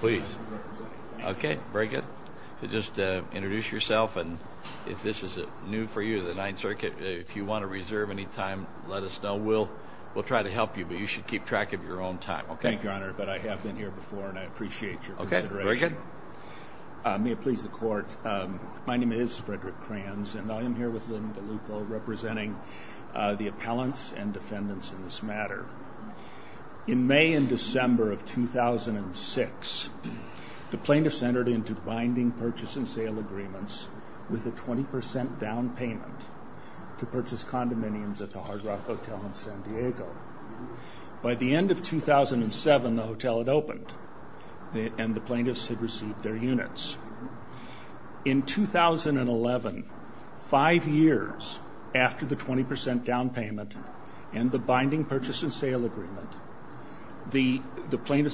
Please. Okay, very good. Just introduce yourself and if this is new for you, the Ninth Circuit, if you want to reserve any time, let us know. We'll try to help you, but you should keep track of your own time, okay? Thank you, Your Honor, but I have been here before and I appreciate your consideration. Okay, very good. May it please the court, my name is Frederick Kranz and I am here with Lynn DeLuco representing the appellants and defendants in this matter. In May and December of 2006, the plaintiffs entered into binding purchase and sale agreements with a 20% down payment to purchase condominiums at the Hard Rock Hotel in San Diego. By the end of 2007, the hotel had opened and the plaintiffs had received their units. In 2011, five years after the 20% down payment and the plaintiffs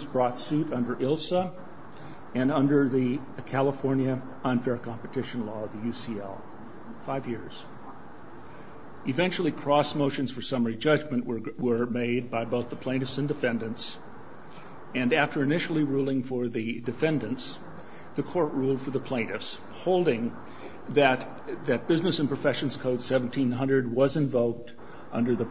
brought suit under ILSA and under the California Unfair Competition Law, the UCL. Five years. Eventually, cross motions for summary judgment were made by both the plaintiffs and defendants and after initially ruling for the defendants, the court ruled for the plaintiffs, holding that Business and Professions Code 1700 was invoked under the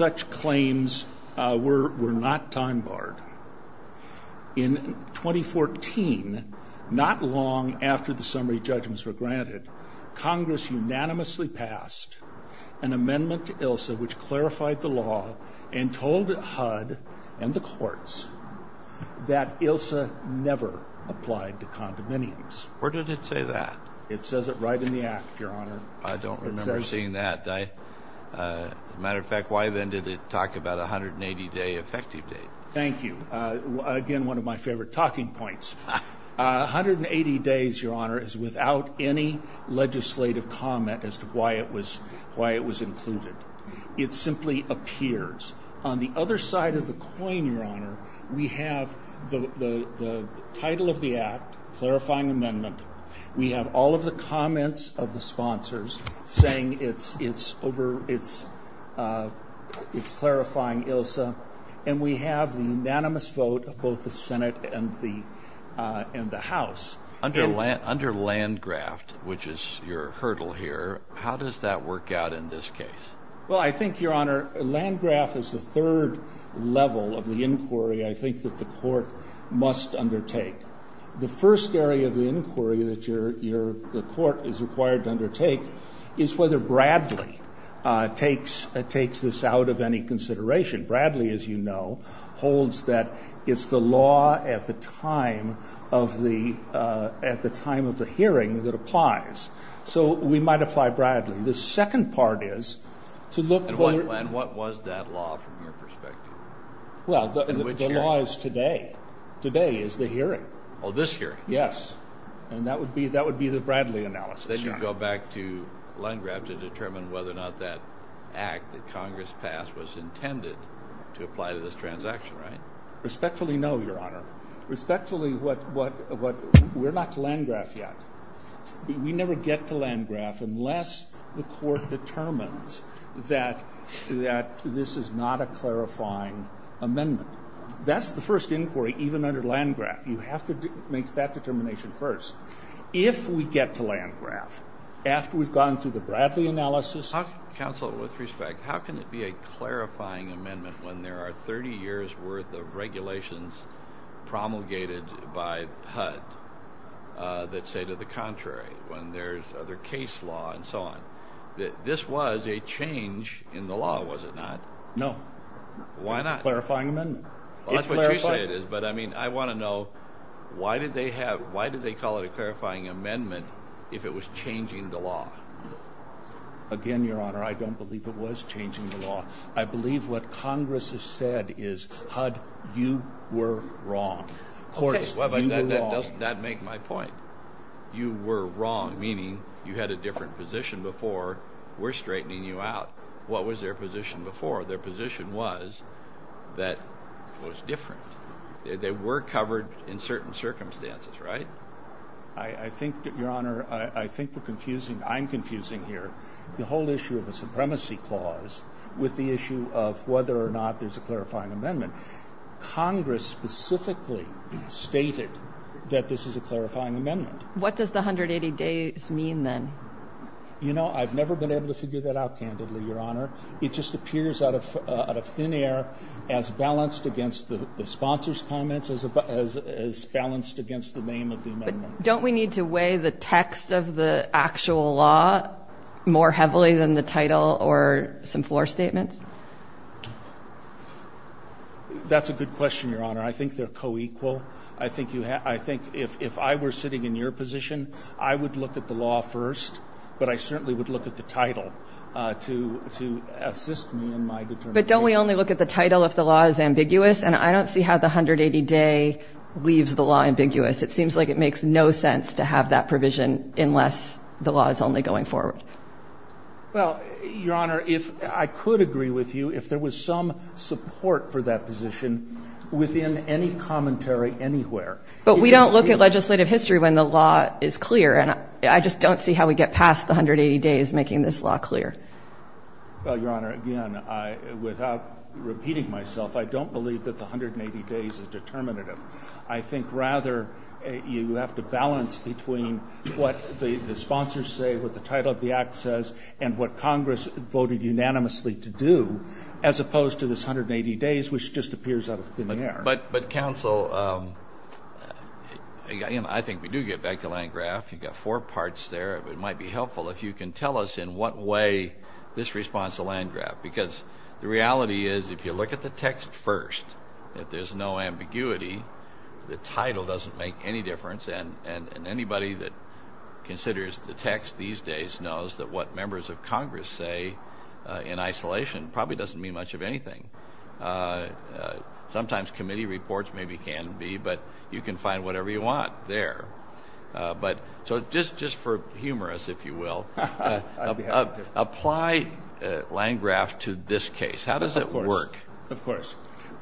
claims were not time-barred. In 2014, not long after the summary judgments were granted, Congress unanimously passed an amendment to ILSA which clarified the law and told HUD and the courts that ILSA never applied to condominiums. Where did it say that? It says it right in the act, Your Honor. I don't remember seeing that. As a matter of fact, why then did it talk about a 180-day effective date? Thank you. Again, one of my favorite talking points. 180 days, Your Honor, is without any legislative comment as to why it was why it was included. It simply appears. On the other side of the coin, Your Honor, we have the title of the act, clarifying amendment. We have all of the comments of the sponsors saying it's over, it's clarifying ILSA, and we have the unanimous vote of both the Senate and the House. Under Landgraft, which is your hurdle here, how does that work out in this case? Well, I think, Your Honor, Landgraft is the third level of the inquiry I think that the court must undertake. The first area of the inquiry that the court is required to undertake is whether Bradley takes this out of any consideration. Bradley, as you know, holds that it's the law at the time of the hearing that applies. So we might apply Bradley. The second part is to look... And what was that law from your perspective? Well, the law is today. Today is the hearing. Oh, this hearing? Yes, and that would be the Bradley analysis. Then you go back to Landgraft to determine whether or not that act that Congress passed was intended to apply to this transaction, right? Respectfully, no, Your Honor. Respectfully, we're not to Landgraft yet. We never get to Landgraft unless the court determines that this is not a clarifying amendment. That's the first inquiry, even under Landgraft. You have to make that decision. After we've gone through the Bradley analysis... Counsel, with respect, how can it be a clarifying amendment when there are 30 years worth of regulations promulgated by HUD that say to the contrary when there's other case law and so on that this was a change in the law, was it not? No. Why not? It's a clarifying amendment. I mean, I want to know why did they have... why did they call it a clarifying amendment if it was changing the law? Again, Your Honor, I don't believe it was changing the law. I believe what Congress has said is, HUD, you were wrong. Court, you were wrong. That doesn't make my point. You were wrong, meaning you had a different position before. We're straightening you out. What was their position before? Their position was that it was different. They were covered in Your Honor, I think we're confusing... I'm confusing here the whole issue of a supremacy clause with the issue of whether or not there's a clarifying amendment. Congress specifically stated that this is a clarifying amendment. What does the 180 days mean then? You know, I've never been able to figure that out candidly, Your Honor. It just appears out of thin air as balanced against the sponsor's comments, as balanced against the name of the amendment. Don't we need to weigh the text of the actual law more heavily than the title or some floor statements? That's a good question, Your Honor. I think they're co-equal. I think if I were sitting in your position, I would look at the law first, but I certainly would look at the title to assist me in my determination. But don't we only look at the title if the law is ambiguous? And I don't see how the 180 day leaves the law ambiguous. It seems like it makes no sense to have that provision unless the law is only going forward. Well, Your Honor, I could agree with you if there was some support for that position within any commentary anywhere. But we don't look at legislative history when the law is clear, and I just don't see how we get past the 180 days making this law clear. Well, Your Honor, again, without repeating myself, I don't believe that the 180 days is determinative. I think rather you have to balance between what the sponsors say, what the title of the act says, and what Congress voted unanimously to do as opposed to this 180 days, which just appears out of thin air. But counsel, I think we do get back to Landgraf. You've got four parts there. It might be helpful if you can tell us in what way this responds to Landgraf, because the reality is, if you look at the text first, if there's no ambiguity, the title doesn't make any difference. And anybody that considers the text these days knows that what members of Congress say in isolation probably doesn't mean much of anything. Sometimes committee reports maybe can be, but you can find whatever you want there. So just for humor, if you will, apply Landgraf to this case. How does it work? Of course.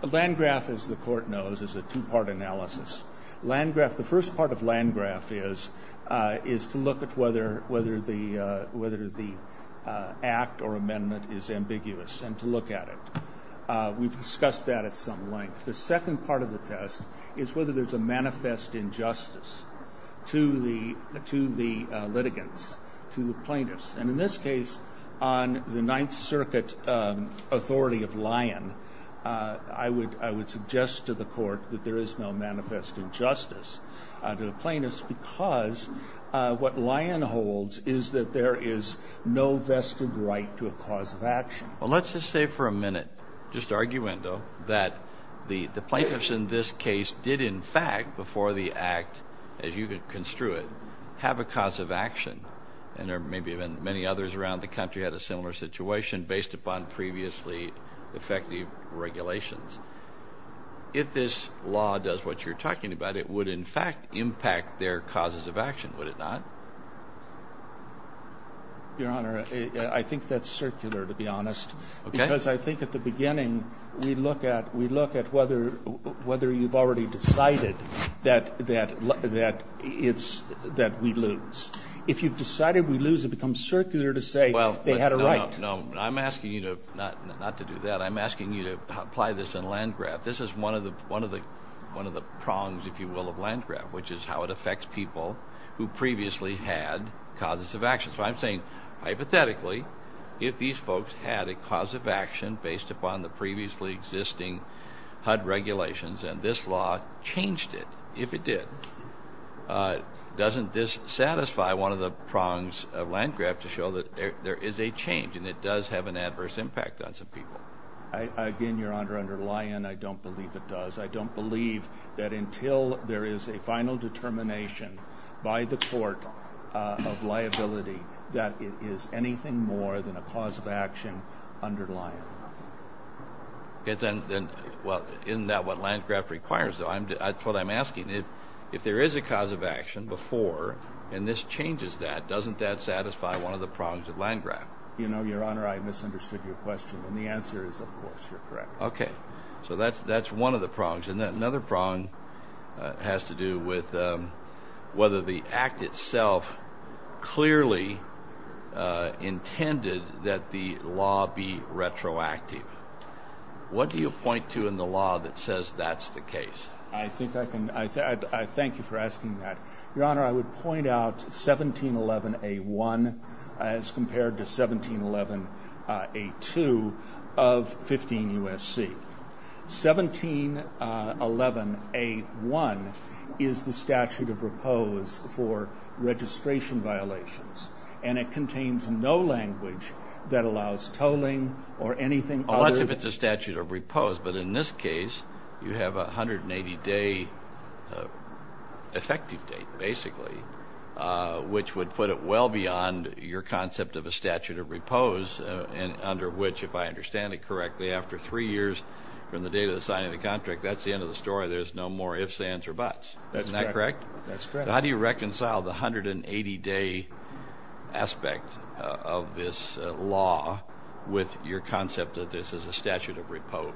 Landgraf, as the Court knows, is a two-part analysis. The first part of Landgraf is to look at whether the act or amendment is ambiguous and to look at it. We've discussed that at some length. The manifest injustice to the litigants, to the plaintiffs. And in this case, on the Ninth Circuit authority of Lyon, I would suggest to the Court that there is no manifest injustice to the plaintiffs, because what Lyon holds is that there is no vested right to a cause of action. Well, let's just say for a minute, just arguendo, that the plaintiffs in this case did, in fact, before the act, as you could construe it, have a cause of action. And there may be many others around the country had a similar situation based upon previously effective regulations. If this law does what you're talking about, it would, in fact, impact their causes of action, would it not? Your Honor, I think that's circular, to be honest. Okay. Because I think at the beginning, we look at whether you've already decided that we lose. If you've decided we lose, it becomes circular to say they had a right. Well, no, I'm asking you to, not to do that, I'm asking you to apply this in Landgraf. This is one of the prongs, if you will, of Landgraf, which is how it affects people who previously had causes of action. So I'm saying, hypothetically, if these folks had a cause of action based upon the previously existing HUD regulations, and this law changed it, if it did, doesn't this satisfy one of the prongs of Landgraf to show that there is a change and it does have an adverse impact on some people? Again, Your Honor, under Lyon, I don't believe it does. I don't believe that until there is a final determination by the court of liability that it is anything more than a cause of action under Lyon. Isn't that what Landgraf requires, though? That's what I'm asking. If there is a cause of action before, and this changes that, doesn't that satisfy one of the prongs of Landgraf? You know, Your Honor, I misunderstood your answer is, of course, you're correct. Okay. So that's that's one of the prongs. And that another prong has to do with whether the act itself clearly intended that the law be retroactive. What do you point to in the law that says that's the case? I think I can. I thank you for asking that, Your Honor. I would point out 1711A1 as compared to 1711A2 of 15 U.S.C. 1711A1 is the statute of repose for registration violations, and it contains no language that allows tolling or anything. Unless if it's a statute of repose. But in this case, you have 180-day effective date, basically, which would put it well beyond your concept of a statute of repose, under which, if I understand it correctly, after three years from the date of the signing of the contract, that's the end of the story. There's no more ifs, ands, or buts. Isn't that correct? That's correct. How do you reconcile the 180-day aspect of this law with your concept that this is a statute of repose?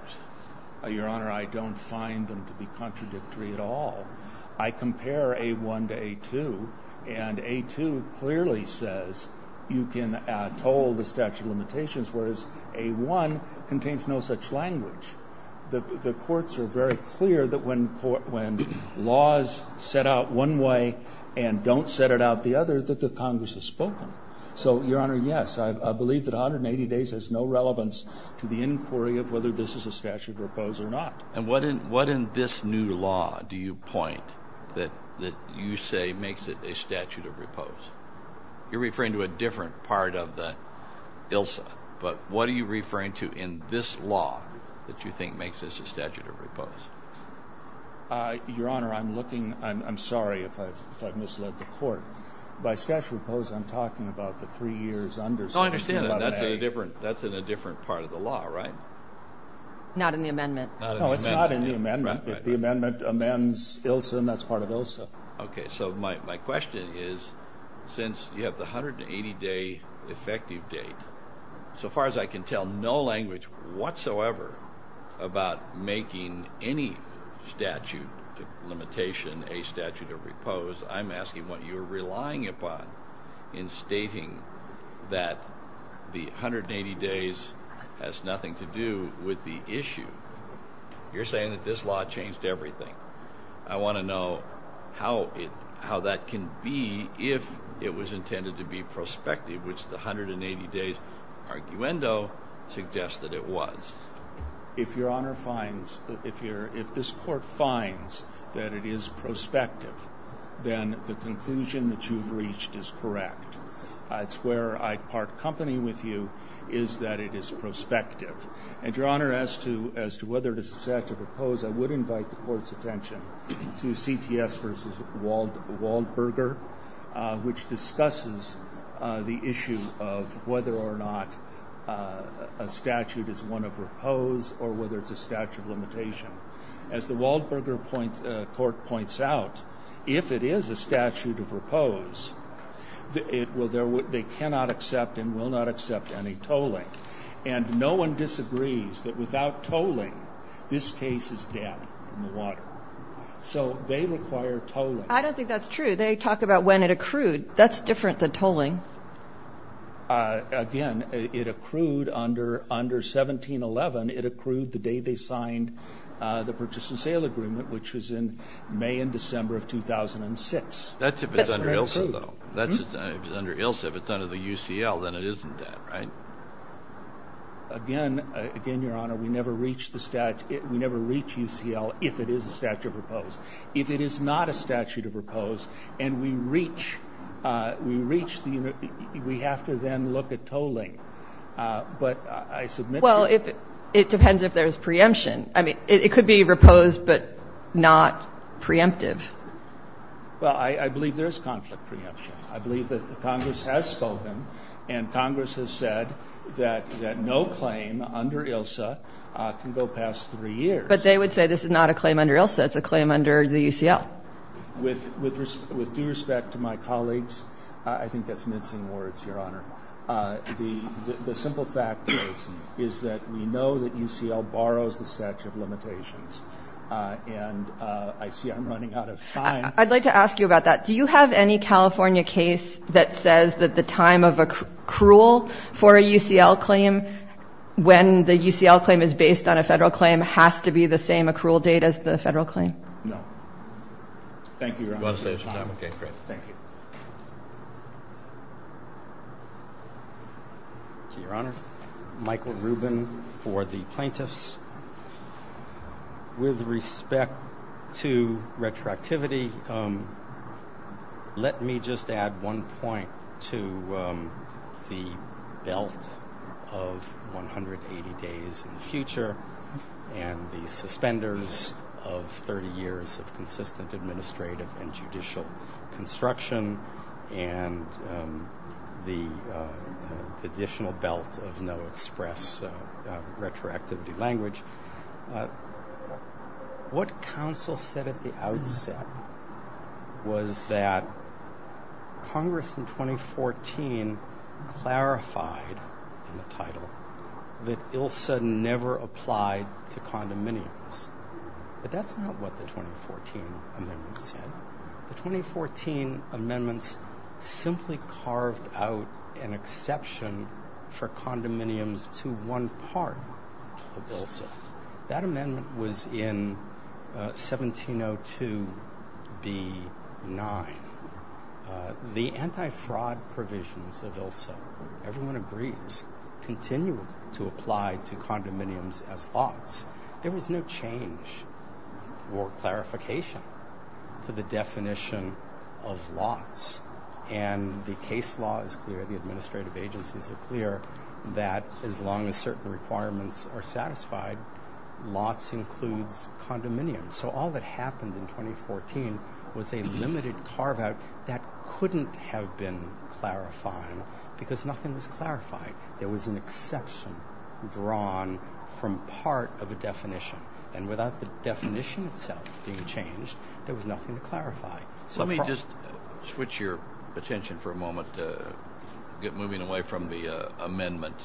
Your Honor, I don't find them to be contradictory at all. I compare A1 to A2, and A2 clearly says you can toll the statute of limitations, whereas A1 contains no such language. The courts are very clear that when laws set out one way and don't set it out the other, that the Congress has spoken. So, Your Honor, yes, I believe that 180 days has no relevance to the inquiry of whether this is a statute of repose or not. And what in this new law do you point that you say makes it a statute of repose? You're referring to a different part of the ILSA, but what are you referring to in this law that you think makes this a statute of repose? Your Honor, I'm looking... I'm sorry if I've misled the court. By statute of repose, I'm talking about the three years under statute. I understand that. That's in a different part of the law, right? Not in the amendment. No, it's not in the amendment. If the amendment amends ILSA, then that's part of ILSA. Okay, so my question is, since you have the 180-day effective date, so far as I can tell, no statute limitation, a statute of repose, I'm asking what you're relying upon in stating that the 180 days has nothing to do with the issue. You're saying that this law changed everything. I want to know how it... how that can be if it was intended to be prospective, which the 180 days arguendo suggests that it was. If Your Honor finds... if this court finds that it is prospective, then the conclusion that you've reached is correct. That's where I'd part company with you, is that it is prospective. And Your Honor, as to whether it is a statute of repose, I would invite the court's attention to CTS v. Waldberger, which is whether it's a statute of repose or whether it's a statute of limitation. As the Waldberger point... court points out, if it is a statute of repose, it will... they cannot accept and will not accept any tolling. And no one disagrees that without tolling, this case is dead in the water. So they require tolling. I don't think that's true. They talk about when it accrued. That's different than tolling. Again, it accrued under... under 1711. It accrued the day they signed the purchase and sale agreement, which was in May and December of 2006. That's if it's under ILSA, though. That's if it's under ILSA. If it's under the UCL, then it isn't dead, right? Again... again, Your Honor, we never reach the statute... we never reach UCL if it is a statute of repose. If it is not a statute of repose and we reach... we reach the statute of repose, we have to then look at tolling. But I submit to you... Well, it depends if there's preemption. I mean, it could be reposed but not preemptive. Well, I believe there's conflict preemption. I believe that the Congress has spoken and Congress has said that no claim under ILSA can go past three years. But they would say this is not a claim under ILSA. It's a claim under the UCL. With due respect to my colleagues, I think that's mincing words, Your Honor. The simple fact is that we know that UCL borrows the statute of limitations. And I see I'm running out of time. I'd like to ask you about that. Do you have any California case that says that the time of accrual for a UCL claim, when the UCL claim is based on a federal claim, has to be the same accrual date as the Thank you, Your Honor. You want to save some time? Okay, great. Thank you. Your Honor, Michael Rubin for the plaintiffs. With respect to retroactivity, let me just add one point to the belt of 180 days in the future and the administrative and judicial construction and the additional belt of no express retroactivity language. What counsel said at the outset was that Congress in 2014 clarified in the title that ILSA never applied to condominiums. But that's not what the 2014 amendments said. The 2014 amendments simply carved out an exception for condominiums to one part of ILSA. That amendment was in 1702 B9. The anti-fraud provisions of ILSA, everyone agrees, continue to apply to change or clarification to the definition of lots. And the case law is clear, the administrative agencies are clear, that as long as certain requirements are satisfied, lots includes condominiums. So all that happened in 2014 was a limited carve-out that couldn't have been clarifying because nothing was clarified. There was an exception drawn from part of a definition. Without the definition itself being changed, there was nothing to clarify. Let me just switch your attention for a moment, moving away from the amendment.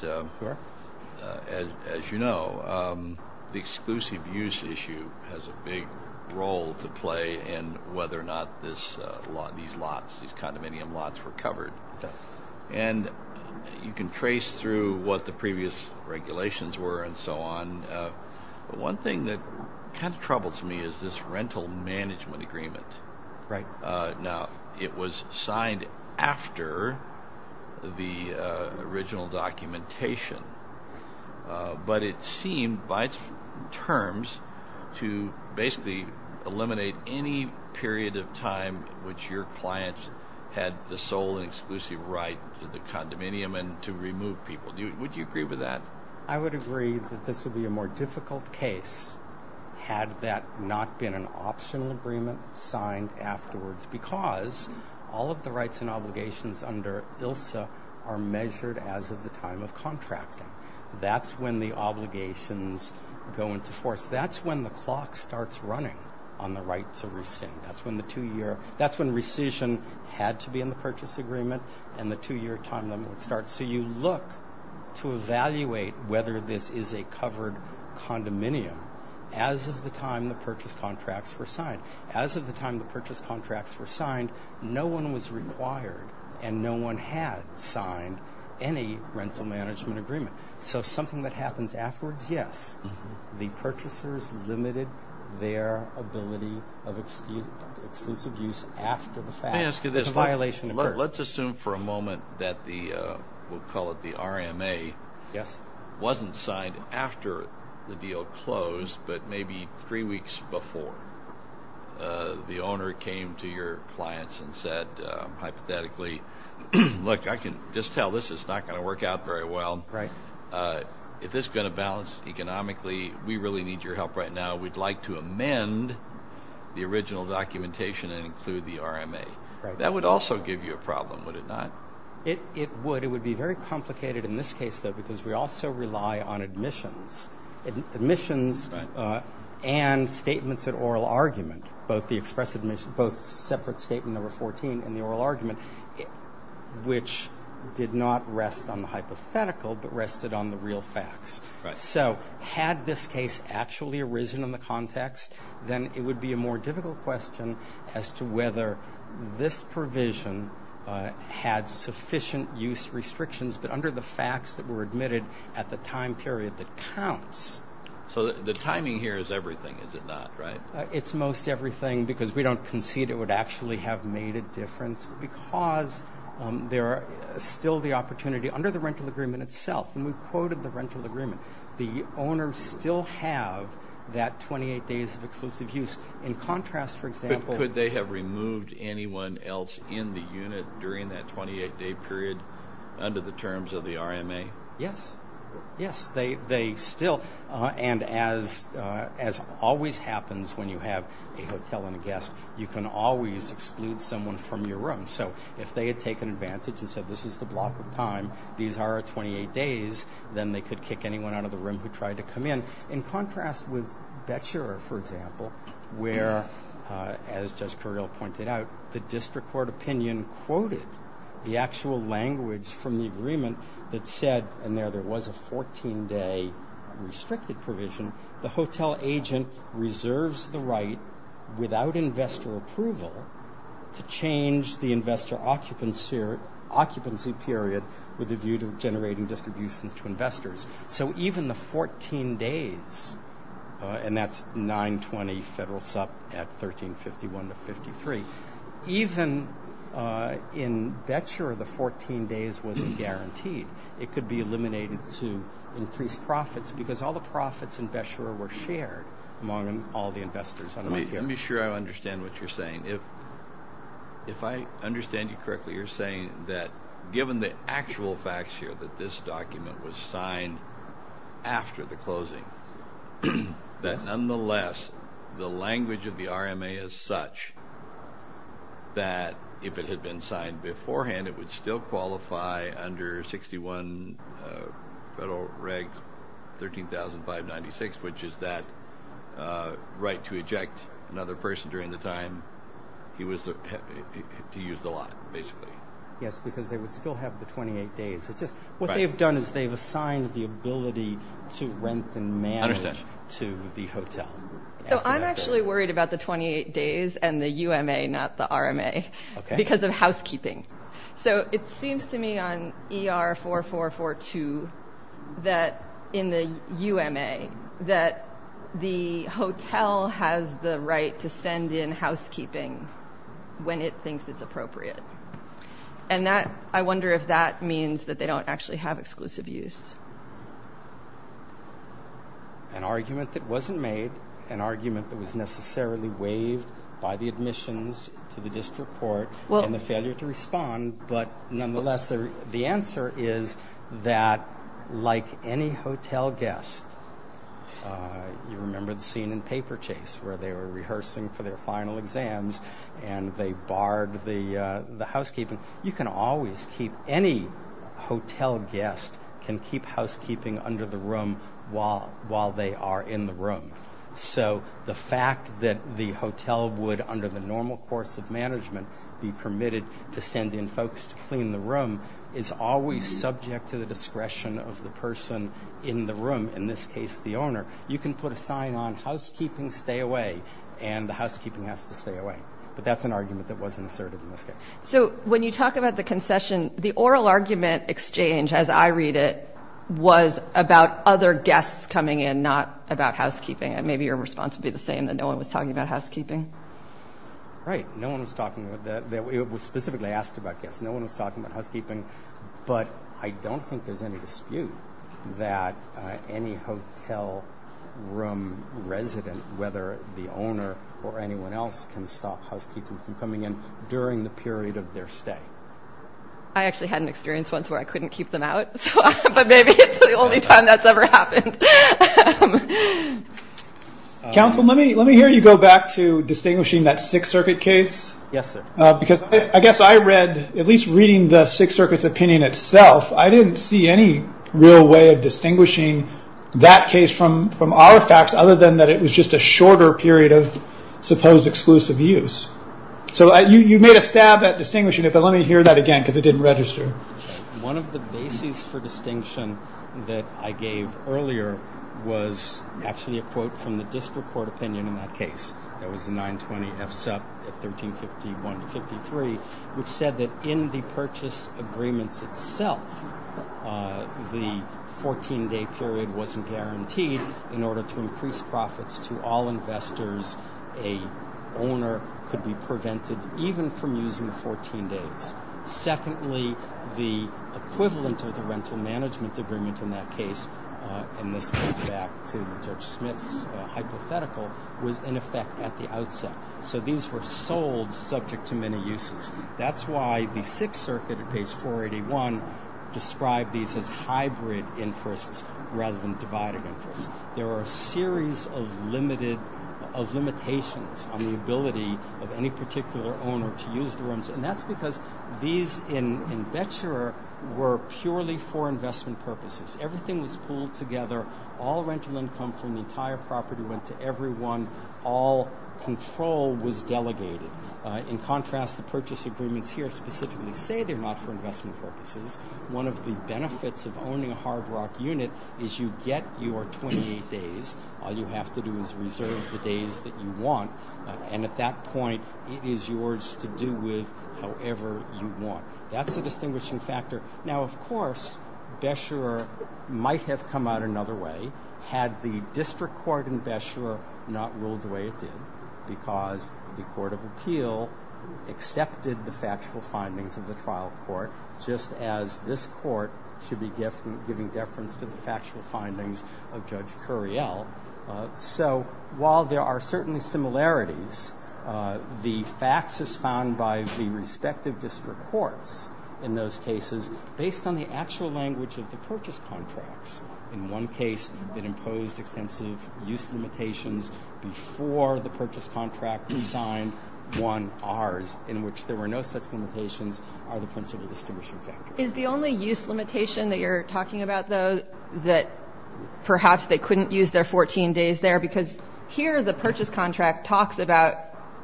As you know, the exclusive use issue has a big role to play in whether or not these lots, these condominium lots, were covered. Yes. And you can trace through what the previous regulations were and so on. One thing that kind of troubles me is this rental management agreement. Right. Now, it was signed after the original documentation, but it seemed by its terms to basically eliminate any period of time which your clients had the sole and exclusive right to the condominium and to remove people. Would you agree with that? I would agree that this would be a more difficult case had that not been an optional agreement signed afterwards because all of the rights and obligations under ILSA are measured as of the time of contracting. That's when the obligations go into force. That's when the clock starts running on the right to rescind. That's when the two-year, that's when rescission had to be in the purchase agreement and the two-year time limit would start. So you look to evaluate whether this is a covered condominium as of the time the purchase contracts were signed. As of the time the purchase contracts were signed, no one was required and no one had signed any rental management agreement. So something that happens afterwards, yes, the purchasers limited their ability of exclusive use after the fact. Let me ask you this. Let's assume for a moment that the, we'll call it the RMA, wasn't signed after the deal closed but maybe three weeks before. The owner came to your clients and said hypothetically, look I can just tell this is not going to work out very well. If this is going to balance economically, we really need your help right now. We'd like to amend the original documentation and include the RMA. That would also give you a problem, would it not? It would. It would be very complicated in this case though because we also rely on admissions. Admissions and statements at oral argument, both the express admission, both separate statement number 14 in the oral argument, which did not rest on the hypothetical but rested on the real facts. So had this case actually arisen in the context, then it would be a more complicated case. So this provision had sufficient use restrictions but under the facts that were admitted at the time period that counts. So the timing here is everything, is it not, right? It's most everything because we don't concede it would actually have made a difference because there are still the opportunity under the rental agreement itself, and we quoted the rental agreement, the owners still have that 28 days of exclusive use. In contrast, for example, could they have removed anyone else in the unit during that 28-day period under the terms of the RMA? Yes, yes. They still, and as always happens when you have a hotel and a guest, you can always exclude someone from your room. So if they had taken advantage and said this is the block of time, these are our 28 days, then they could kick anyone out of the room who tried to come in. In contrast with as Kirill pointed out, the district court opinion quoted the actual language from the agreement that said, and there there was a 14-day restricted provision, the hotel agent reserves the right without investor approval to change the investor occupancy period with a view to generating distributions to 53. Even in Betscher, the 14 days wasn't guaranteed. It could be eliminated to increase profits because all the profits in Betscher were shared among all the investors. Let me make sure I understand what you're saying. If I understand you correctly, you're saying that given the actual facts here that this document was that if it had been signed beforehand, it would still qualify under 61 Federal Reg 13,596, which is that right to eject another person during the time he was to use the lot, basically. Yes, because they would still have the 28 days. It's just what they've done is they've assigned the ability to rent and manage to the hotel. So I'm actually worried about the 28 days and the UMA, not the RMA, because of housekeeping. So it seems to me on ER 4442 that in the UMA that the hotel has the right to send in housekeeping when it thinks it's appropriate. And that, I wonder if that means that they don't actually have an argument that wasn't made, an argument that was necessarily waived by the admissions to the district court, and the failure to respond. But nonetheless, the answer is that like any hotel guest, you remember the scene in Paper Chase where they were rehearsing for their final exams and they barred the housekeeping. You can always keep, any hotel guest can keep housekeeping under the room while they are in the room. So the fact that the hotel would, under the normal course of management, be permitted to send in folks to clean the room is always subject to the discretion of the person in the room, in this case the owner. You can put a sign on housekeeping, stay away, and the housekeeping has to stay away. But that's an argument that wasn't asserted in this case. So when you talk about the concession, the oral argument exchange, as I read it, was about other guests coming in, not about housekeeping. And maybe your response would be the same, that no one was talking about housekeeping. Right. No one was talking about that. It was specifically asked about guests. No one was talking about housekeeping. But I don't think there's any dispute that any hotel room resident, whether the owner or anyone else, can stop housekeeping from coming in during the period of their stay. I actually had an experience once where I couldn't keep them out. But maybe it's the only time that's ever happened. Counsel, let me hear you go back to distinguishing that Sixth Circuit case. Yes, sir. I guess I read, at least reading the Sixth Circuit's opinion itself, I didn't see any real way of distinguishing that case from our facts, other than that it was just a shorter period of supposed exclusive use. So you made a stab at distinguishing it, but let me hear that again, because it didn't register. One of the bases for distinction that I gave earlier was actually a quote from the district court opinion in that case. That was the 920 FSUP at 1351-53, which said that in the purchase agreements itself, the 14-day period wasn't guaranteed. In order to increase profits to all investors, a owner could be the equivalent of the rental management agreement in that case. And this goes back to Judge Smith's hypothetical, was in effect at the outset. So these were sold subject to many uses. That's why the Sixth Circuit at page 481 described these as hybrid interests rather than divided interests. There are a series of limitations on the ability of any particular owner to use the rooms, and that's because these in Betscherer were purely for investment purposes. Everything was pooled together. All rental income from the entire property went to everyone. All control was delegated. In contrast, the purchase agreements here specifically say they're not for investment purposes. One of the benefits of owning a hard rock unit is you get your 28 days. All you have to do is reserve the days that you want, and at that point it is yours to do with however you want. That's a distinguishing factor. Now, of course, Betscherer might have come out another way had the District Court in Betscherer not ruled the way it did, because the Court of Appeal accepted the factual findings of the trial court, just as this court should be giving deference to the factual findings of Judge Curiel. So while there are certainly similarities, the facts as found by the respective district courts in those cases, based on the actual language of the purchase contracts, in one case that imposed extensive use limitations before the purchase contract was signed won ours, in which there were no such limitations, are the principle distinguishing factors. Is the only use limitation that you're talking about, though, that perhaps they couldn't use their 14 days there? Because here the purchase contract talks about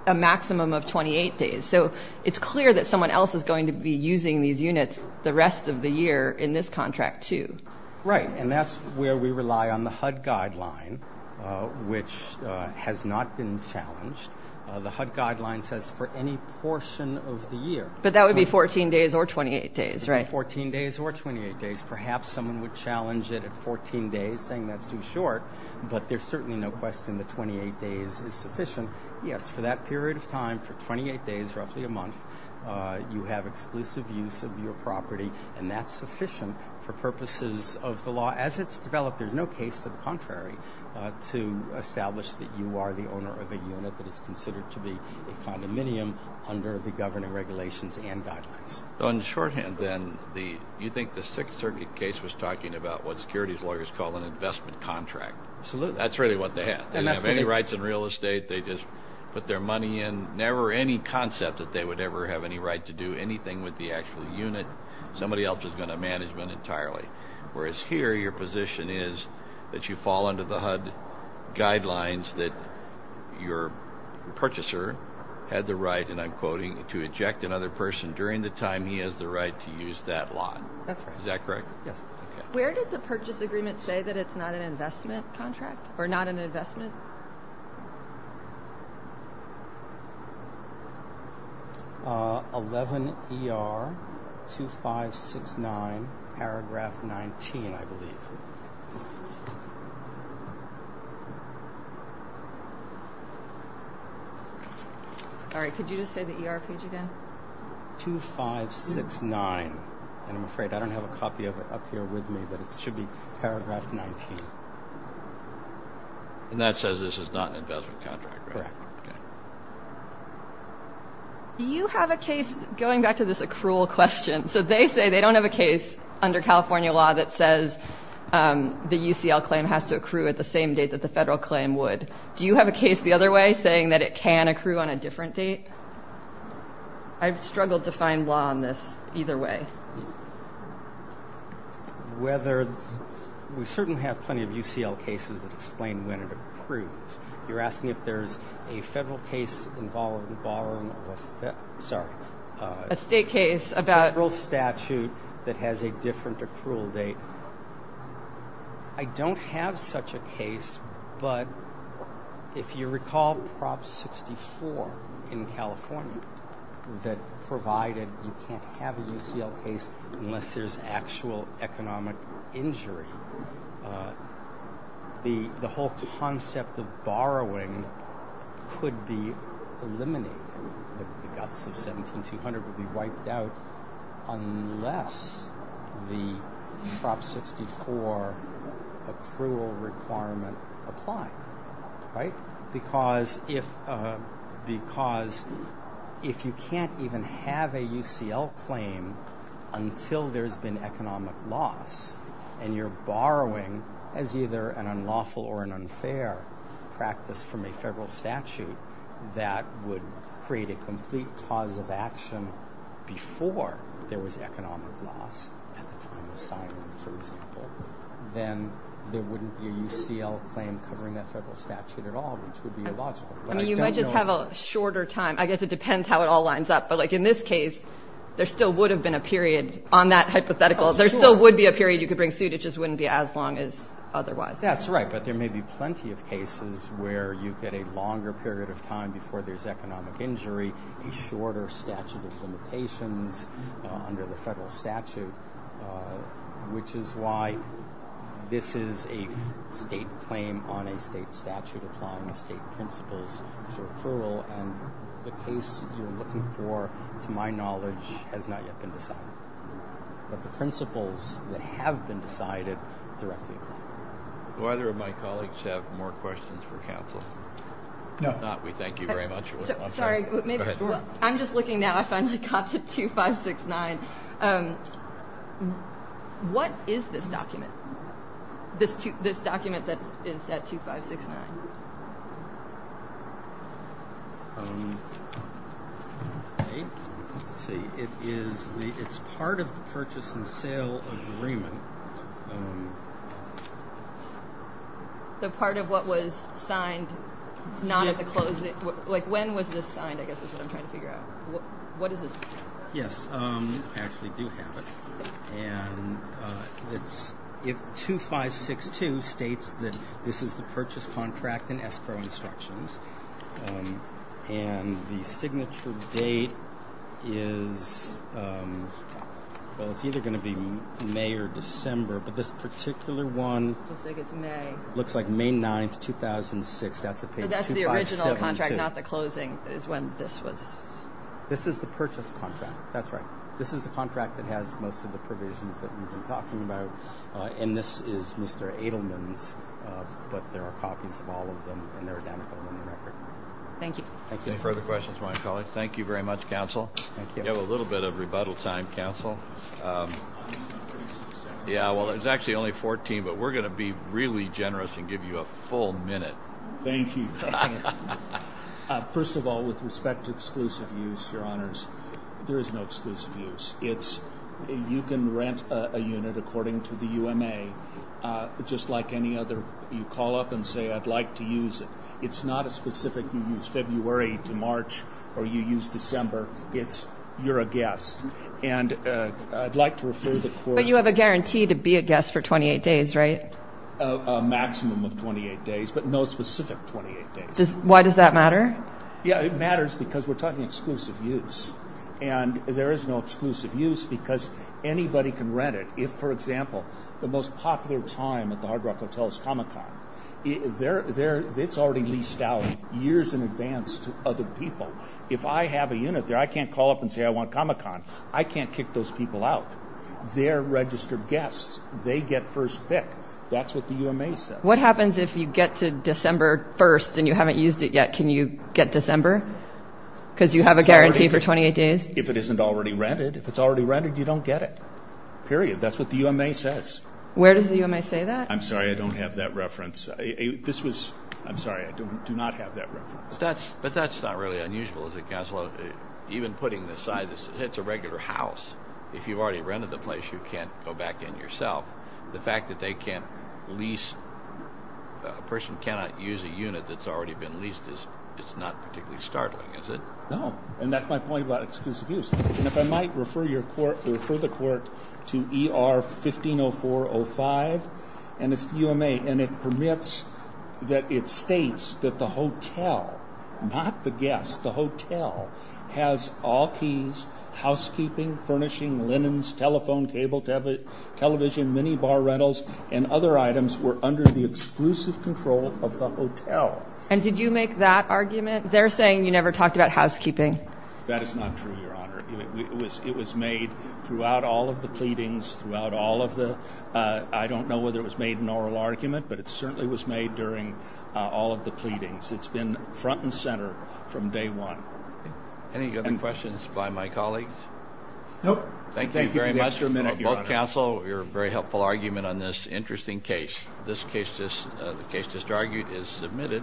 a maximum of 28 days, so it's clear that someone else is going to be using these units the rest of the year in this contract, too. Right, and that's where we rely on the HUD guideline, which has not been challenged. The HUD says 14 days or 28 days, right? 14 days or 28 days. Perhaps someone would challenge it at 14 days, saying that's too short, but there's certainly no question that 28 days is sufficient. Yes, for that period of time, for 28 days, roughly a month, you have exclusive use of your property, and that's sufficient for purposes of the law. As it's developed, there's no case to the contrary to establish that you are the owner of a unit that is considered to be a condominium under the governing regulations and guidelines. On the shorthand, then, you think the Sixth Circuit case was talking about what securities lawyers call an investment contract? Absolutely. That's really what they had. They didn't have any rights in real estate. They just put their money in. Never any concept that they would ever have any right to do anything with the actual unit. Somebody else is going to manage them entirely, whereas here your position is that you fall under the HUD guidelines that your purchaser had the right, and I'm quoting, to eject another person during the time he has the right to use that lot. That's right. Is that correct? Yes. Where did the purchase agreement say that it's not an investment contract, or not an investment? 11 ER 2569, paragraph 19, I believe. All right, could you just say the ER page again? 2569, and I'm afraid I don't have a copy of it up here with me, but it should be paragraph 19. And that says this is not an investment contract, right? Correct. Do you have a case, going back to this accrual question, so they say they don't have a case under California law that says the same would, do you have a case the other way saying that it can accrue on a different date? I've struggled to find law on this either way. Whether, we certainly have plenty of UCL cases that explain when it accrues. You're asking if there's a federal case involving borrowing, sorry, a state case about a federal statute that has a different accrual date. I don't have such a case, but if you recall Prop 64 in California that provided you can't have a UCL case unless there's actual economic injury, the whole concept of borrowing could be eliminated. The guts of 17-200 would be wiped out unless the Prop 64 requirement applied, right? Because if you can't even have a UCL claim until there's been economic loss and you're borrowing as either an unlawful or an unfair practice from a federal statute that would create a complete cause of action before there was economic loss, at the time of Simon, for example, then there wouldn't be a UCL claim covering that federal statute at all, which would be illogical. You might just have a shorter time, I guess it depends how it all lines up, but like in this case there still would have been a period on that hypothetical, there still would be a period you could bring suit, it just wouldn't be as long as otherwise. That's right, but there may be plenty of cases where you get a longer period of time before there's economic injury, a shorter statute of limitations under the state claim on a state statute applying the state principles for accrual and the case you're looking for, to my knowledge, has not yet been decided. But the principles that have been decided directly apply. Do either of my colleagues have more questions for counsel? No. If not, we thank you very much. Sorry, I'm just looking now, I don't know if that is that 2569. Let's see, it's part of the purchase and sale agreement. The part of what was signed, not at the closing, like when was this signed, I guess is what I'm trying to figure out. What is this? Yes, I actually do have it, and it's 2562 states that this is the purchase contract in escrow instructions, and the signature date is, well, it's either going to be May or December, but this particular one looks like May 9th, 2006. That's the original contract, not the closing, is when this was... This is the purchase contract, that's right. This is the contract that has most of the provisions that we've been talking about, and this is Mr. Edelman's, but there are copies of all of them, and they're identical in the record. Thank you. Any further questions, my colleague? Thank you very much, counsel. We have a little bit of rebuttal time, counsel. Yeah, well, it's actually only 14, but we're gonna be really generous and give you a full minute. Thank you. First of all, with respect to exclusive use, your honors, there is no exclusive use. It's, you can rent a unit according to the UMA, just like any other. You call up and say, I'd like to use it. It's not a specific, you use February to March, or you use December. It's, you're a guest, and I'd like to refer the court... But you have a guarantee to be a guest for 28 days, right? A maximum of 28 days, but no specific 28 days. Why does that matter? Yeah, it matters because we're talking exclusive use, and there is no exclusive use because anybody can rent it. If, for example, the most popular time at the Hard Rock Hotel is Comic-Con. It's already leased out years in advance to other people. If I have a unit there, I can't call up and say, I want Comic-Con. I can't kick those people out. They're registered guests. They get first pick. That's what the UMA says. What happens if you get to December 1st, and you haven't used it yet? Can you get December? Because you have a guarantee for 28 days? If it isn't already rented, if it's already rented, you don't get it. Period. That's what the UMA says. Where does the UMA say that? I'm sorry, I don't have that reference. This was, I'm sorry, I don't, do not have that reference. That's, but that's not really unusual, is it, Counselor? Even putting aside this, it's a regular house. If you've already rented the place, you can't go back in yourself. The fact that they can't lease, a person cannot use a unit that's already been leased is, it's not particularly startling, is it? No, and that's my point about exclusive use. And if I might refer your court, refer the court to ER 150405, and it's the UMA, and it permits, that it states that the hotel, not the guests, the hotel has all keys, housekeeping, furnishing, linens, telephone, cable, television, mini bar rentals, and other items were under the exclusive control of the hotel. And did you make that argument? They're saying you never talked about housekeeping. That is not true, Your Honor. It was, it was made throughout all of the pleadings, throughout all of the, I don't know whether it was made an oral argument, but it certainly was made during all of the pleadings. It's been front and center from day one. Any other questions by my colleagues? Nope. Thank you very much. Thank you for the extra minute, Your Honor. Both counsel, your very helpful argument on this interesting case. This case, the case just argued is submitted.